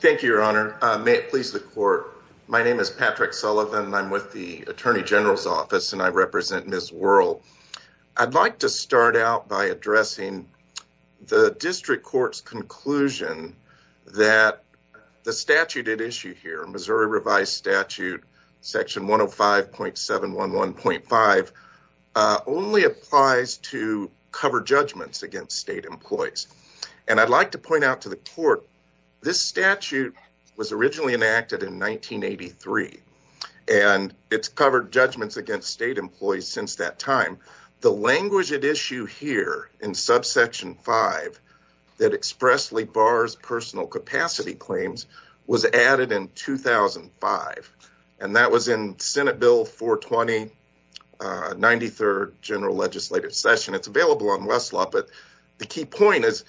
Thank you, your honor. May it please the court. My name is Patrick Sullivan and I'm with the Attorney General's Office and I represent Ms. Worrell. I'd like to start out by addressing the District Court's conclusion that the statute at issue here, Missouri Revised Statute Section 105.711.5, only applies to cover judgments against state employees. And I'd like to point out to the court, this statute was originally enacted in 1983 and it's covered judgments against state employees since that time. The language at issue here in Subsection 5 that expressly bars personal capacity claims was added in 2005 and that was in Senate Bill 420, 93rd General Legislative Session. It's available on Westlaw, but the key point is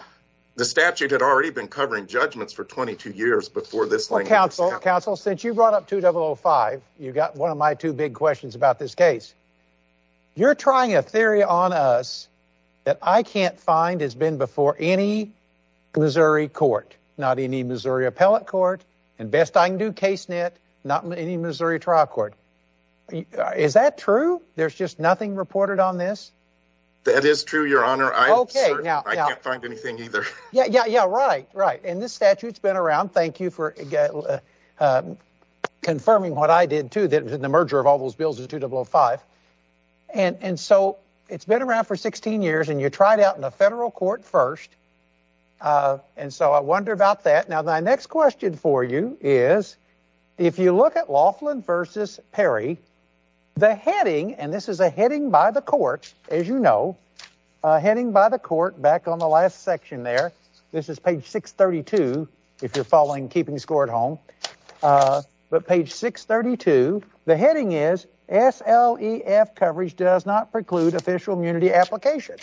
the statute had already been covering judgments for 22 years before this language was added. Patrick Sullivan Counsel, since you brought up 2005, you got one of my two big questions about this case. You're trying a theory on us that I can't find has been before any Missouri court, not any Missouri appellate court, and best I can do, case net, not any Missouri trial court. Is that true? There's just nothing reported on this? That is true, your honor. I can't find anything either. Yeah, yeah, yeah, right, right. And this statute's been around. Thank you for confirming what I did too, that the merger of all those bills is 2005. And so it's been around for 16 years and you tried out in a federal court first. And so I wonder about that. Now, my next question for you is, if you look at Laughlin versus Perry, the heading, and this is a heading by the court, as you know, heading by the court, back on the last section there, this is page 632, if you're following, keeping score at home. But page 632, the heading is SLEF coverage does not preclude official immunity application.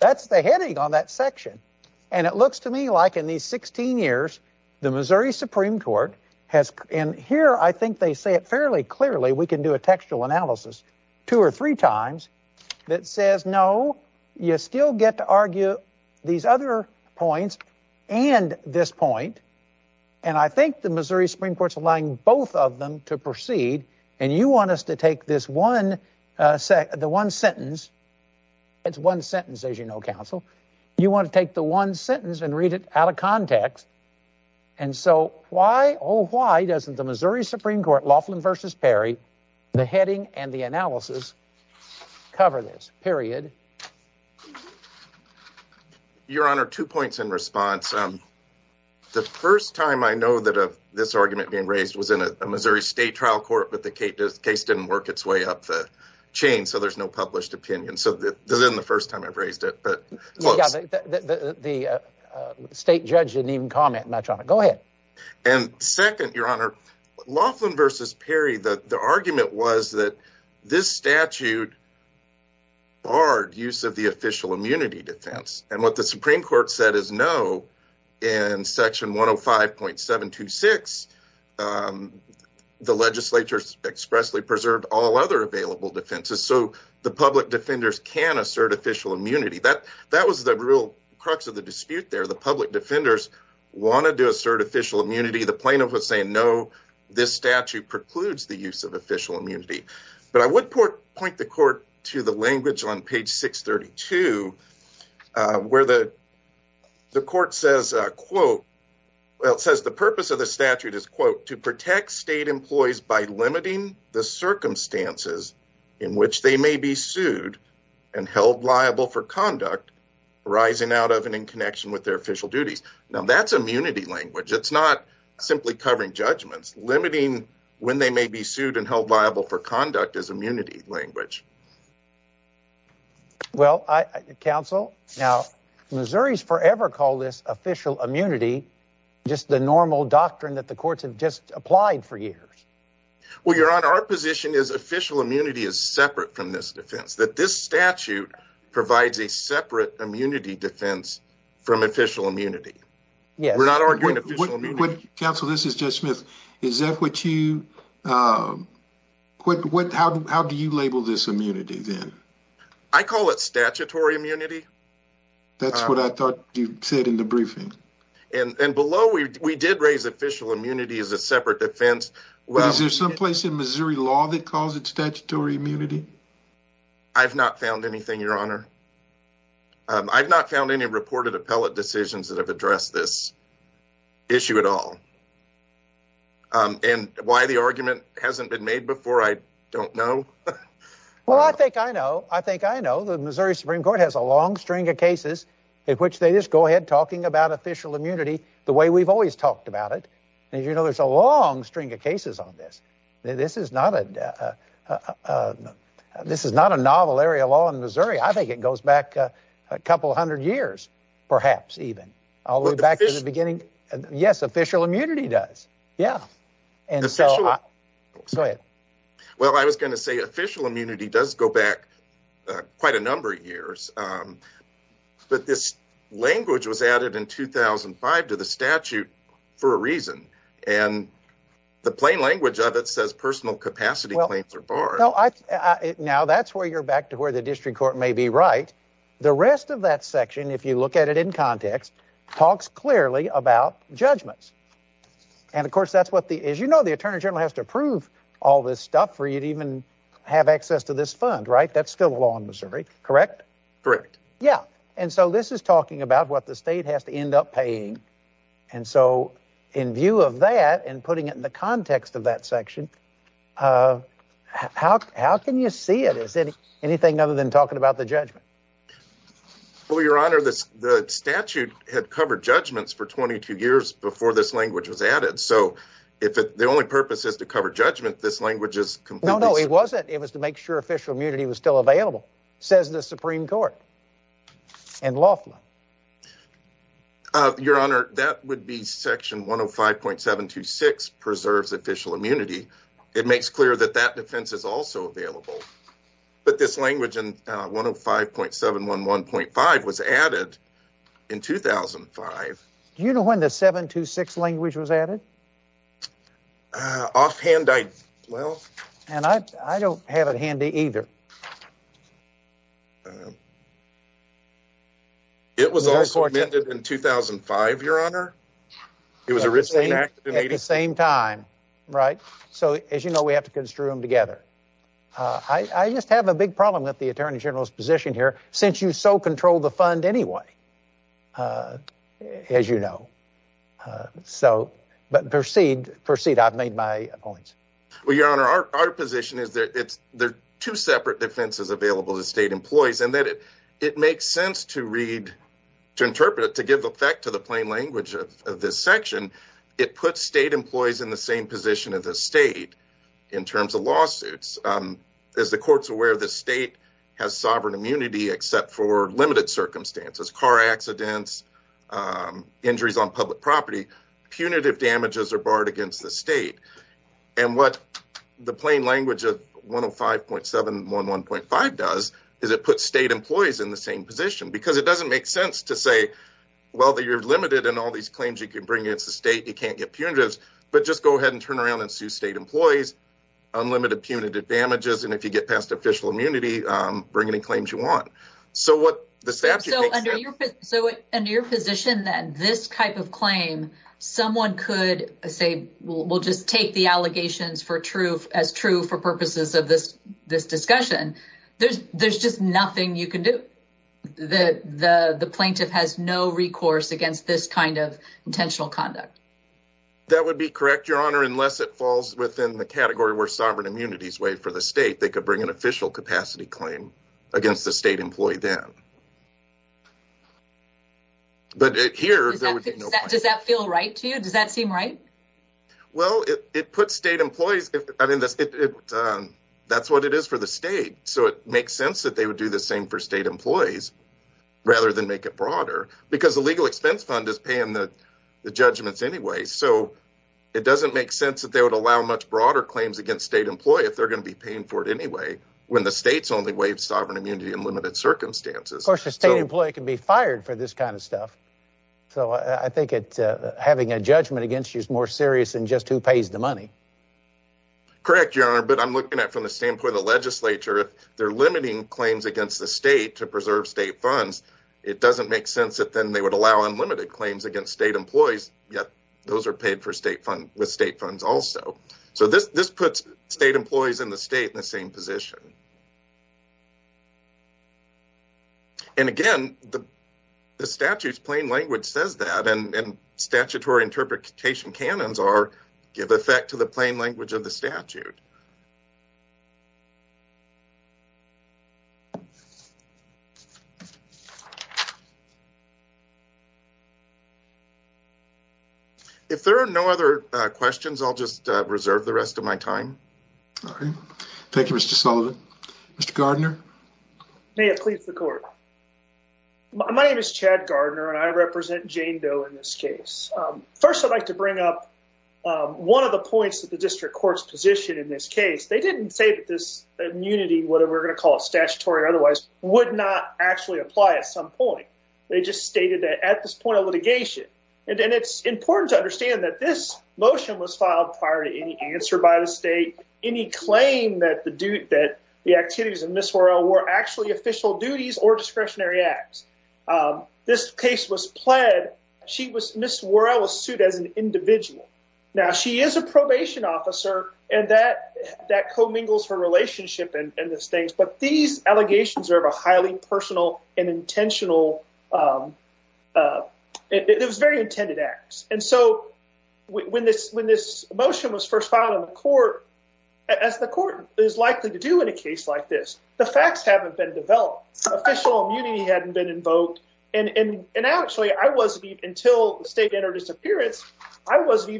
That's the heading on that section. And it looks to me like in these 16 years, the Missouri Supreme Court has. And here, I think they say it fairly clearly. We can do a textual analysis two or three times that says, no, you still get to argue these other points and this point. And I think the Missouri Supreme Court's allowing both of them to proceed. And you want us to take this one, the one sentence. It's one sentence, as you know, counsel, you want to take the one sentence and read it out of context. And so why, oh, why doesn't the Missouri Supreme Court Laughlin versus Perry, the heading and the analysis cover this period? Your Honor, two points in response. The first time I know that this argument being raised was in a Missouri state trial court, but the case didn't work its way up the chain. So there's no published opinion. So then the first time I've raised it, but the state judge didn't even comment much on it. Go ahead. And second, your Honor, Laughlin versus Perry, the argument was that this statute barred use of the official immunity defense. And what the Supreme Court said is no. In section 105.726, the legislature expressly preserved all other available defenses. So the public defenders can assert official immunity. That was the real crux of the dispute there. The public defenders want to do assert official immunity. The plaintiff was saying no, this statute precludes the use of official immunity. But I would point the court to the language on page 632, where the court says, quote, well, it says the purpose of the statute is, quote, protect state employees by limiting the circumstances in which they may be sued and held liable for conduct arising out of and in connection with their official duties. Now, that's immunity language. It's not simply covering judgments. Limiting when they may be sued and held liable for conduct is immunity language. Well, counsel, now Missouri's forever call this official immunity, just the normal doctrine that the courts have just applied for years. Well, your Honor, our position is official immunity is separate from this defense, that this statute provides a separate immunity defense from official immunity. We're not arguing official immunity. Counsel, this is Judge Smith. Is that what you, what, how do you label this immunity then? I call it statutory immunity. That's what I thought you said in the briefing. And below, we did raise official immunity as a separate defense. Well, is there someplace in Missouri law that calls it statutory immunity? I've not found anything, your Honor. I've not found any reported appellate decisions that have addressed this issue at all. And why the argument hasn't been made before, I don't know. Well, I think I know. I think I know the Missouri Supreme Court has a long string of cases in which they just go ahead talking about official immunity the way we've always talked about it. And, you know, there's a long string of cases on this. This is not a, this is not a novel area of law in Missouri. I think it goes back a couple of hundred years, perhaps even all the way back to the beginning. Yes, official immunity does. Yeah. And so, go ahead. Well, I was going to say official immunity does go back quite a number of years, but this language was added in 2005 to the statute for a reason. And the plain language of it says personal capacity claims are barred. Now that's where you're back to where the district court may be right. The rest of that section, if you look at it in context, talks clearly about judgments. And of course, that's what the, as you know, the attorney general has to approve all this stuff for you to even have access to this fund, right? That's still a law in Missouri, correct? Correct. Yeah. And so this is talking about what the state has to end up paying. And so in view of that and putting it in the context of that section, how can you see it as anything other than talking about the judgment? Well, your honor, the statute had covered judgments for 22 years before this language was added. So if the only purpose is to cover judgment, this language is completely... No, no, it wasn't. It was to make sure official immunity was still available, says the Supreme Court and Loffman. Your honor, that would be section 105.726 preserves official immunity. It makes clear that that defense is also available. But this language in 105.711.5 was added in 2005. Do you know when the 726 language was added? Offhand, I... Well... And I don't have it handy either. It was also amended in 2005, your honor. It was originally enacted in... The same time, right? So as you know, we have to construe them together. I just have a big problem with the attorney general's position here, since you so control the fund anyway, as you know. So, but proceed. Proceed. I've made my points. Well, your honor, our position is there are two separate defenses available to state employees, and that it makes sense to read, to interpret it, to give effect to the plain language of this section. It puts state employees in the same position as the state in terms of lawsuits. As the court's aware, the state has sovereign immunity except for limited circumstances, car accidents, injuries on public property, punitive damages are barred against the state. And what the plain language of 105.711.5 does is it puts state employees in the same position, because it doesn't make sense to say, well, that you're limited in all these claims you bring against the state, you can't get punitives, but just go ahead and turn around and sue state employees, unlimited punitive damages, and if you get past official immunity, bring any claims you want. So what the statute... So under your position that this type of claim, someone could say, we'll just take the allegations as true for purposes of this discussion. There's just nothing you can do. The plaintiff has no recourse against this kind of intentional conduct. That would be correct, Your Honor, unless it falls within the category where sovereign immunity is waived for the state, they could bring an official capacity claim against the state employee then. But here... Does that feel right to you? Does that seem right? Well, it puts state employees... I mean, that's what it is for the state. So it makes sense that they would do the same for state employees rather than make it broader, because the legal expense fund is paying the judgments anyway. So it doesn't make sense that they would allow much broader claims against state employee if they're going to be paying for it anyway, when the state's only waived sovereign immunity in limited circumstances. Of course, the state employee can be fired for this kind of stuff. So I think having a judgment against you is more serious than just who pays the money. Correct, Your Honor, but I'm looking at from the standpoint of the legislature, if limiting claims against the state to preserve state funds, it doesn't make sense that then they would allow unlimited claims against state employees, yet those are paid with state funds also. So this puts state employees in the state in the same position. And again, the statute's plain language says that, and statutory interpretation canons are to the plain language of the statute. If there are no other questions, I'll just reserve the rest of my time. All right. Thank you, Mr. Sullivan. Mr. Gardner? May it please the court. My name is Chad Gardner, and I represent Jane Doe in this case. First, I'd like to bring up one of the points that the district court's positioned in this case. They didn't say that this immunity, whether we're going to call it statutory or otherwise, would not actually apply at some point. They just stated that at this point of litigation, and it's important to understand that this motion was filed prior to any answer by the state, any claim that the activities of Ms. Worrell were actually official duties or discretionary acts. This case was pled. Ms. Worrell was sued as an individual. Now, she is a probation officer, and that co-mingles her relationship and those things. But these allegations are of a highly personal and intentional—it was very intended acts. And so when this motion was first filed in the court, as the court is likely to do in a case like this, the facts haven't been developed. Official immunity hadn't been invoked. And actually, until the state entered its appearance, I wasn't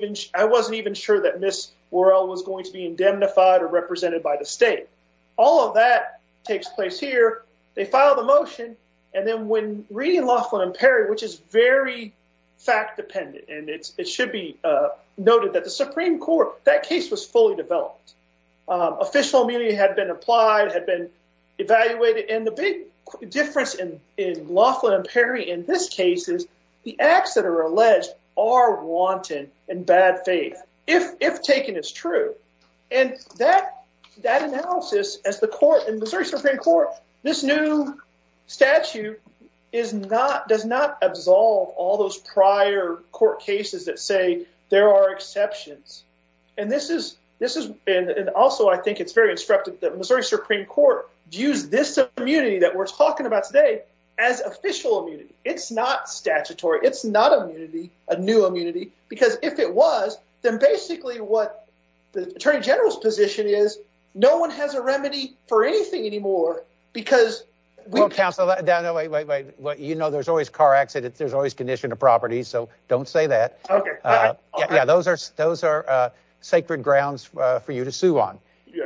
even sure that Ms. Worrell was going to be indemnified or represented by the state. All of that takes place here. They filed the motion. And then when reading Laughlin and Perry, which is very fact-dependent, and it should be noted that the Supreme Court, that case was fully developed. Official immunity had been applied, had been evaluated. And the big difference in Laughlin and Perry in this case is the acts that are alleged are wanton and bad faith, if taken as true. And that analysis, as the court in Missouri Supreme Court, this new statute does not absolve all those prior court cases that say there are exceptions. And also, I think it's very instructive that Missouri Supreme Court views this immunity that we're talking about today as official immunity. It's not statutory. It's not immunity, a new immunity, because if it was, then basically what the attorney general's position is, no one has a remedy for anything anymore because— Well, counsel, you know there's always car accidents, there's always condition of property, so don't say that. Yeah, those are sacred grounds for you to sue on.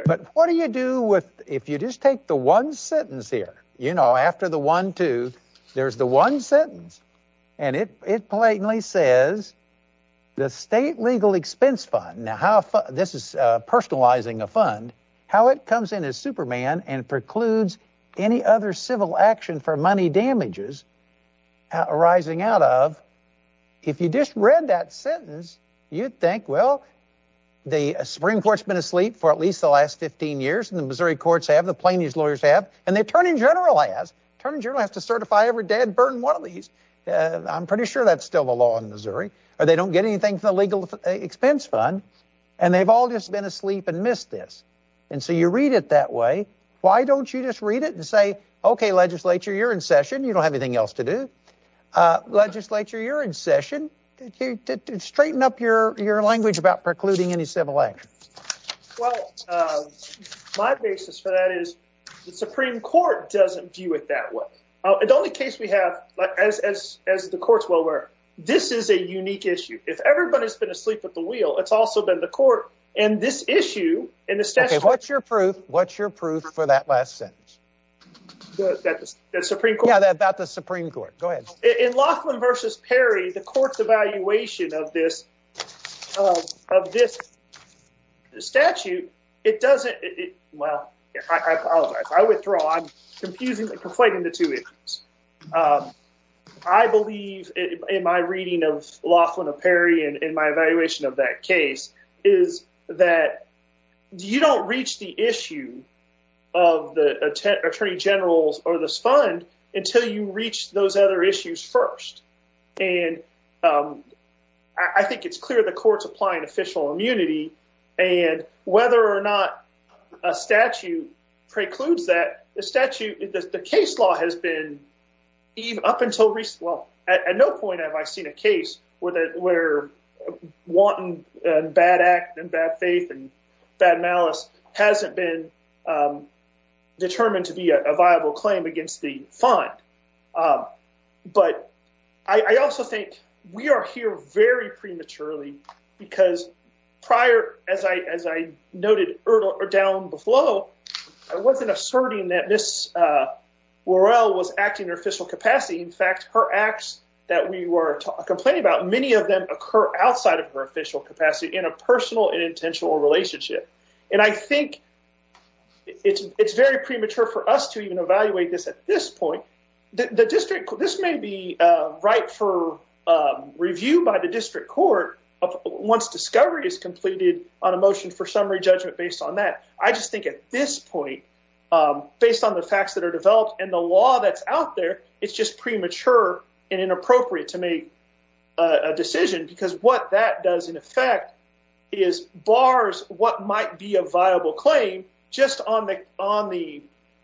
But what do you do if you just take the one sentence here, you know, after the one-two, there's the one sentence, and it politely says the state legal expense fund—now, this is personalizing a fund—how it comes in as Superman and precludes any other civil action for money damages arising out of—if you just read that sentence, you'd think, well, the Supreme Court's been asleep for at least the last 15 years, and the Missouri courts have, the plaintiff's lawyers have, and the attorney general has. Attorney general has to certify every dead, burned one of these. I'm pretty sure that's still the law in Missouri. Or they don't get anything from the legal expense fund, and they've all just been asleep and missed this. And so you read it that way. Why don't you just read it and say, okay, legislature, you're in session. You don't have anything else to do. Legislature, you're in session. Straighten up your language about precluding any civil action. Well, my basis for that is the Supreme Court doesn't view it that way. The only case we have, like, as the courts well aware, this is a unique issue. If everybody's been asleep at the wheel, it's also been the court. And this issue— Okay, what's your proof? What's your proof for that last sentence? The Supreme Court? Yeah, about the Supreme Court. Go ahead. In Loughlin v. Perry, the court's evaluation of this statute, it doesn't—well, I apologize. I withdraw. I'm confusingly conflating the two issues. I believe in my reading of Loughlin of Perry and in my case, is that you don't reach the issue of the attorney generals or this fund until you reach those other issues first. And I think it's clear the court's applying official immunity. And whether or not a statute precludes that, the statute—the case law has been up until—well, at no point have I seen a case where wanting bad act and bad faith and bad malice hasn't been determined to be a viable claim against the fund. But I also think we are here very prematurely because prior, as I noted down below, I wasn't asserting that Ms. Worrell was acting in her capacity. In fact, her acts that we were complaining about, many of them occur outside of her official capacity in a personal and intentional relationship. And I think it's very premature for us to even evaluate this at this point. This may be right for review by the district court once discovery is completed on a motion for summary judgment based on that. I just think at this point, based on the facts that are developed and the law that's out there, it's just premature and inappropriate to make a decision because what that does, in effect, is bars what might be a viable claim just on the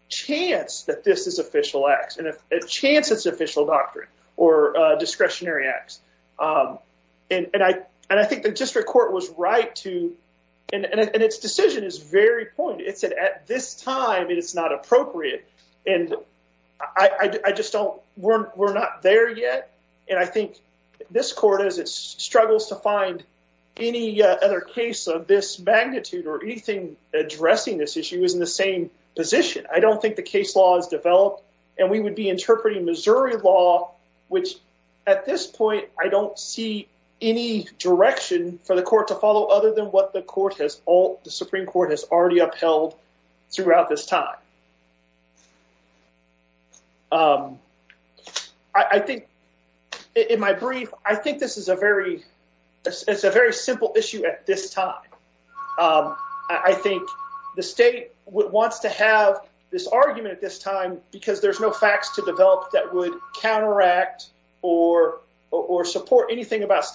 chance that this is official acts and a chance it's official doctrine or discretionary acts. And I think the district court was right to—and its decision is very pointed—it said at this time, it's not appropriate. And I just don't—we're not there yet. And I think this court, as it struggles to find any other case of this magnitude or anything addressing this issue, is in the same position. I don't think the case law is developed. And we would be interpreting Missouri law, which at this point, I don't see any direction for the Supreme Court has already upheld throughout this time. I think, in my brief, I think this is a very it's a very simple issue at this time. I think the state wants to have this argument at this time because there's no facts to develop that would counteract or support anything about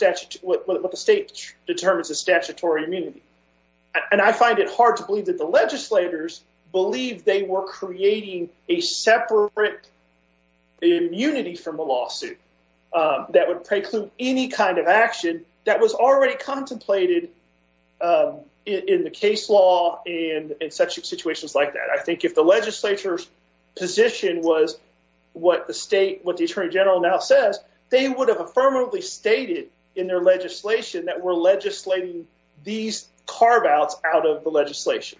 what the state determines as statutory immunity. And I find it hard to believe that the legislators believe they were creating a separate immunity from a lawsuit that would preclude any kind of action that was already contemplated in the case law and in such situations like that. I think if the legislature's position was what the state, what the attorney general now says, they would have affirmatively stated in their legislation that we're legislating these carve-outs out of the legislation.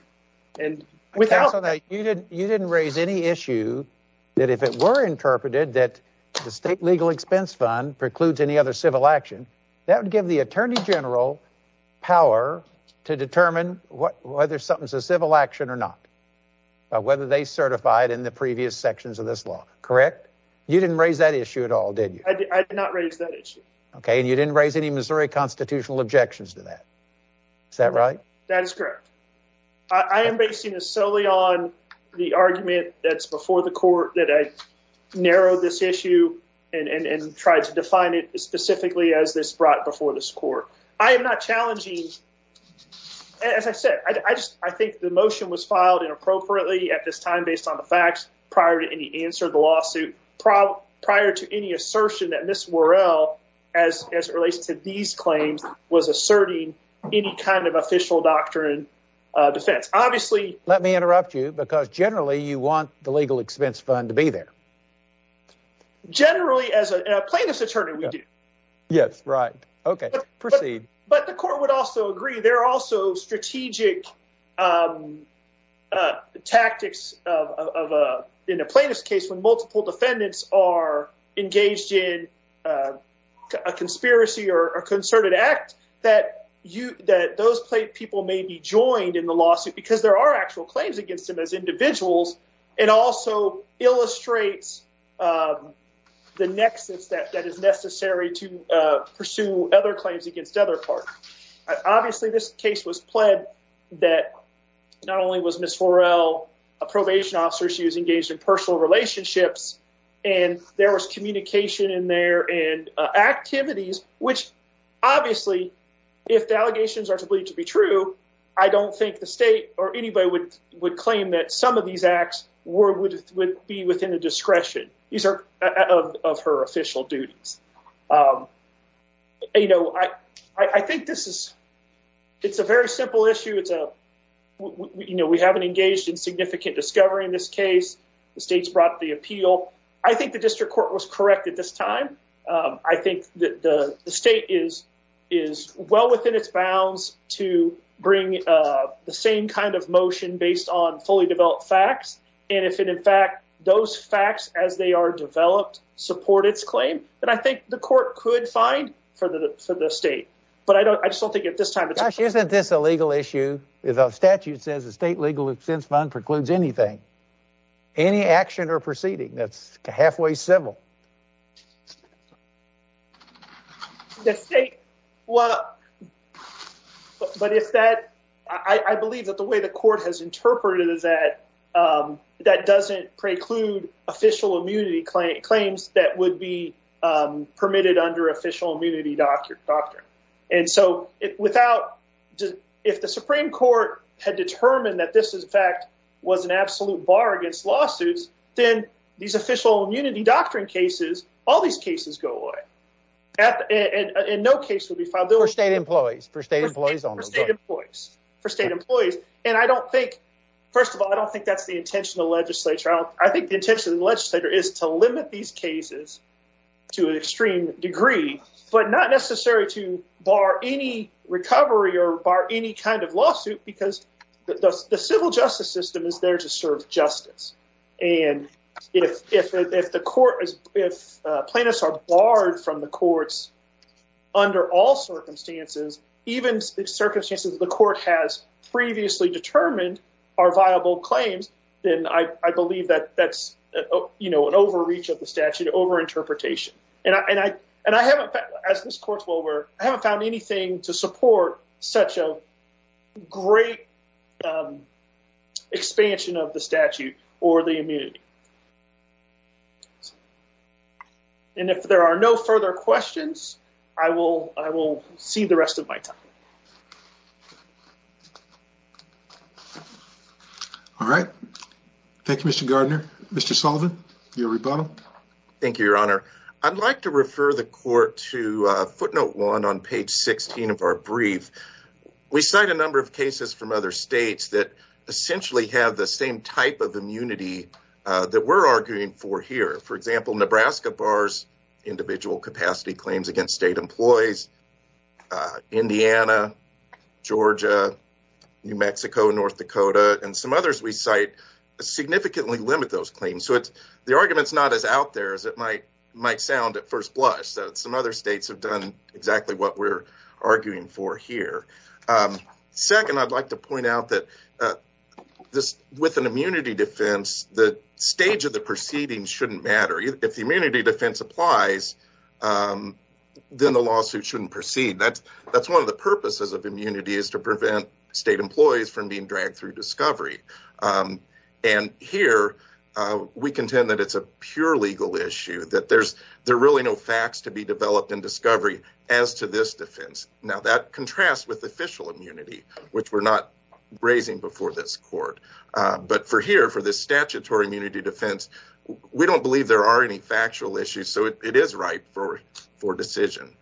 And without— You didn't raise any issue that if it were interpreted that the state legal expense fund precludes any other civil action, that would give the attorney general power to determine whether something's a civil action or not, whether they certified in the previous sections of this law, correct? You didn't raise that issue at all, did you? I did not raise that issue. Okay, and you didn't raise any Missouri constitutional objections to that. Is that right? That is correct. I am basing this solely on the argument that's before the court that I narrowed this issue and tried to define it specifically as this brought before this court. I am not challenging—as I said, I think the motion was filed inappropriately at this time based on the facts prior to any answer to the lawsuit, prior to any assertion that Ms. Worrell, as it relates to these claims, was asserting any kind of official doctrine defense. Obviously— Let me interrupt you because generally you want the legal expense fund to be there. Generally, as a plaintiff's attorney, we do. Yes, right. Okay, proceed. But the court would also agree there are also strategic tactics in a plaintiff's case when multiple defendants are engaged in a conspiracy or concerted act that those people may be joined in the lawsuit because there are actual claims against them as individuals. It also illustrates the nexus that is necessary to pursue other parties. Obviously, this case was pled that not only was Ms. Worrell a probation officer, she was engaged in personal relationships, and there was communication in there and activities, which obviously, if the allegations are to believe to be true, I don't think the state or anybody would claim that some of these acts would be within the discretion of her official duties. I think this is a very simple issue. We haven't engaged in significant discovery in this case. The state's brought the appeal. I think the district court was correct at this time. I think that the state is well within its bounds to bring the same kind of motion based on fully developed facts. And if, in fact, those facts, as they are developed, support its claim, then I think the court could find for the state. But I just don't think at this time— Gosh, isn't this a legal issue? The statute says the state legal defense fund precludes anything, any action or proceeding that's halfway civil. The state—well, but if that—I believe that the way the court has interpreted is that that doesn't preclude official immunity claims that would be permitted under official immunity doctrine. And so without—if the Supreme Court had determined that this, in fact, was an absolute bar against lawsuits, then these official immunity doctrine cases, all these cases go away. And no case would be filed. For state employees. For state employees only. For state employees. For state employees. And I don't think—first of all, I don't think that's the intention of the legislature. I think the intention of the legislature is to limit these cases to an extreme degree, but not necessarily to bar any recovery or bar any kind of lawsuit, because the civil justice system is there to serve justice. And if the court—if plaintiffs are barred from the courts under all circumstances, even circumstances the court has previously determined are viable claims, then I believe that that's, you know, an overreach of the statute, over-interpretation. And I haven't, as this court will, I haven't found anything to support such a great expansion of the statute or the immunity. And if there are no further questions, I will see the rest of my time. All right. Thank you, Mr. Gardner. Mr. Sullivan, your rebuttal. Thank you, Your Honor. I'd like to refer the court to footnote one on page 16 of our brief. We cite a number of cases from other states that essentially have the same type of immunity that we're arguing for here. For example, Nebraska bars individual capacity claims against state employees. Indiana, Georgia, New Mexico, North Dakota, and some others we cite significantly limit those claims. So the argument's not as out there as it might sound at first blush. Some other states have done exactly what we're arguing for here. Second, I'd like to point out that with an immunity defense, the stage of the proceedings shouldn't matter. If the immunity defense applies, then the lawsuit shouldn't proceed. That's one of the purposes of immunity is to prevent state employees from being dragged through discovery. And here, we contend that it's a pure legal issue, that there's really no facts to be developed in discovery as to this defense. Now, that contrasts with official immunity, which we're not raising before this court. But for here, for this statutory immunity defense, we don't believe there are any factual issues. So it is ripe for decision.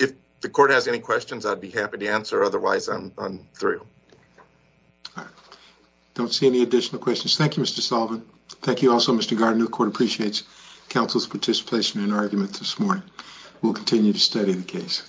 If the court has any questions, I'd be happy to answer. Otherwise, I'm through. All right. Don't see any additional questions. Thank you, Mr. Sullivan. Thank you also, Mr. Gardner. The court appreciates counsel's participation in arguments this morning. We'll continue to study the case.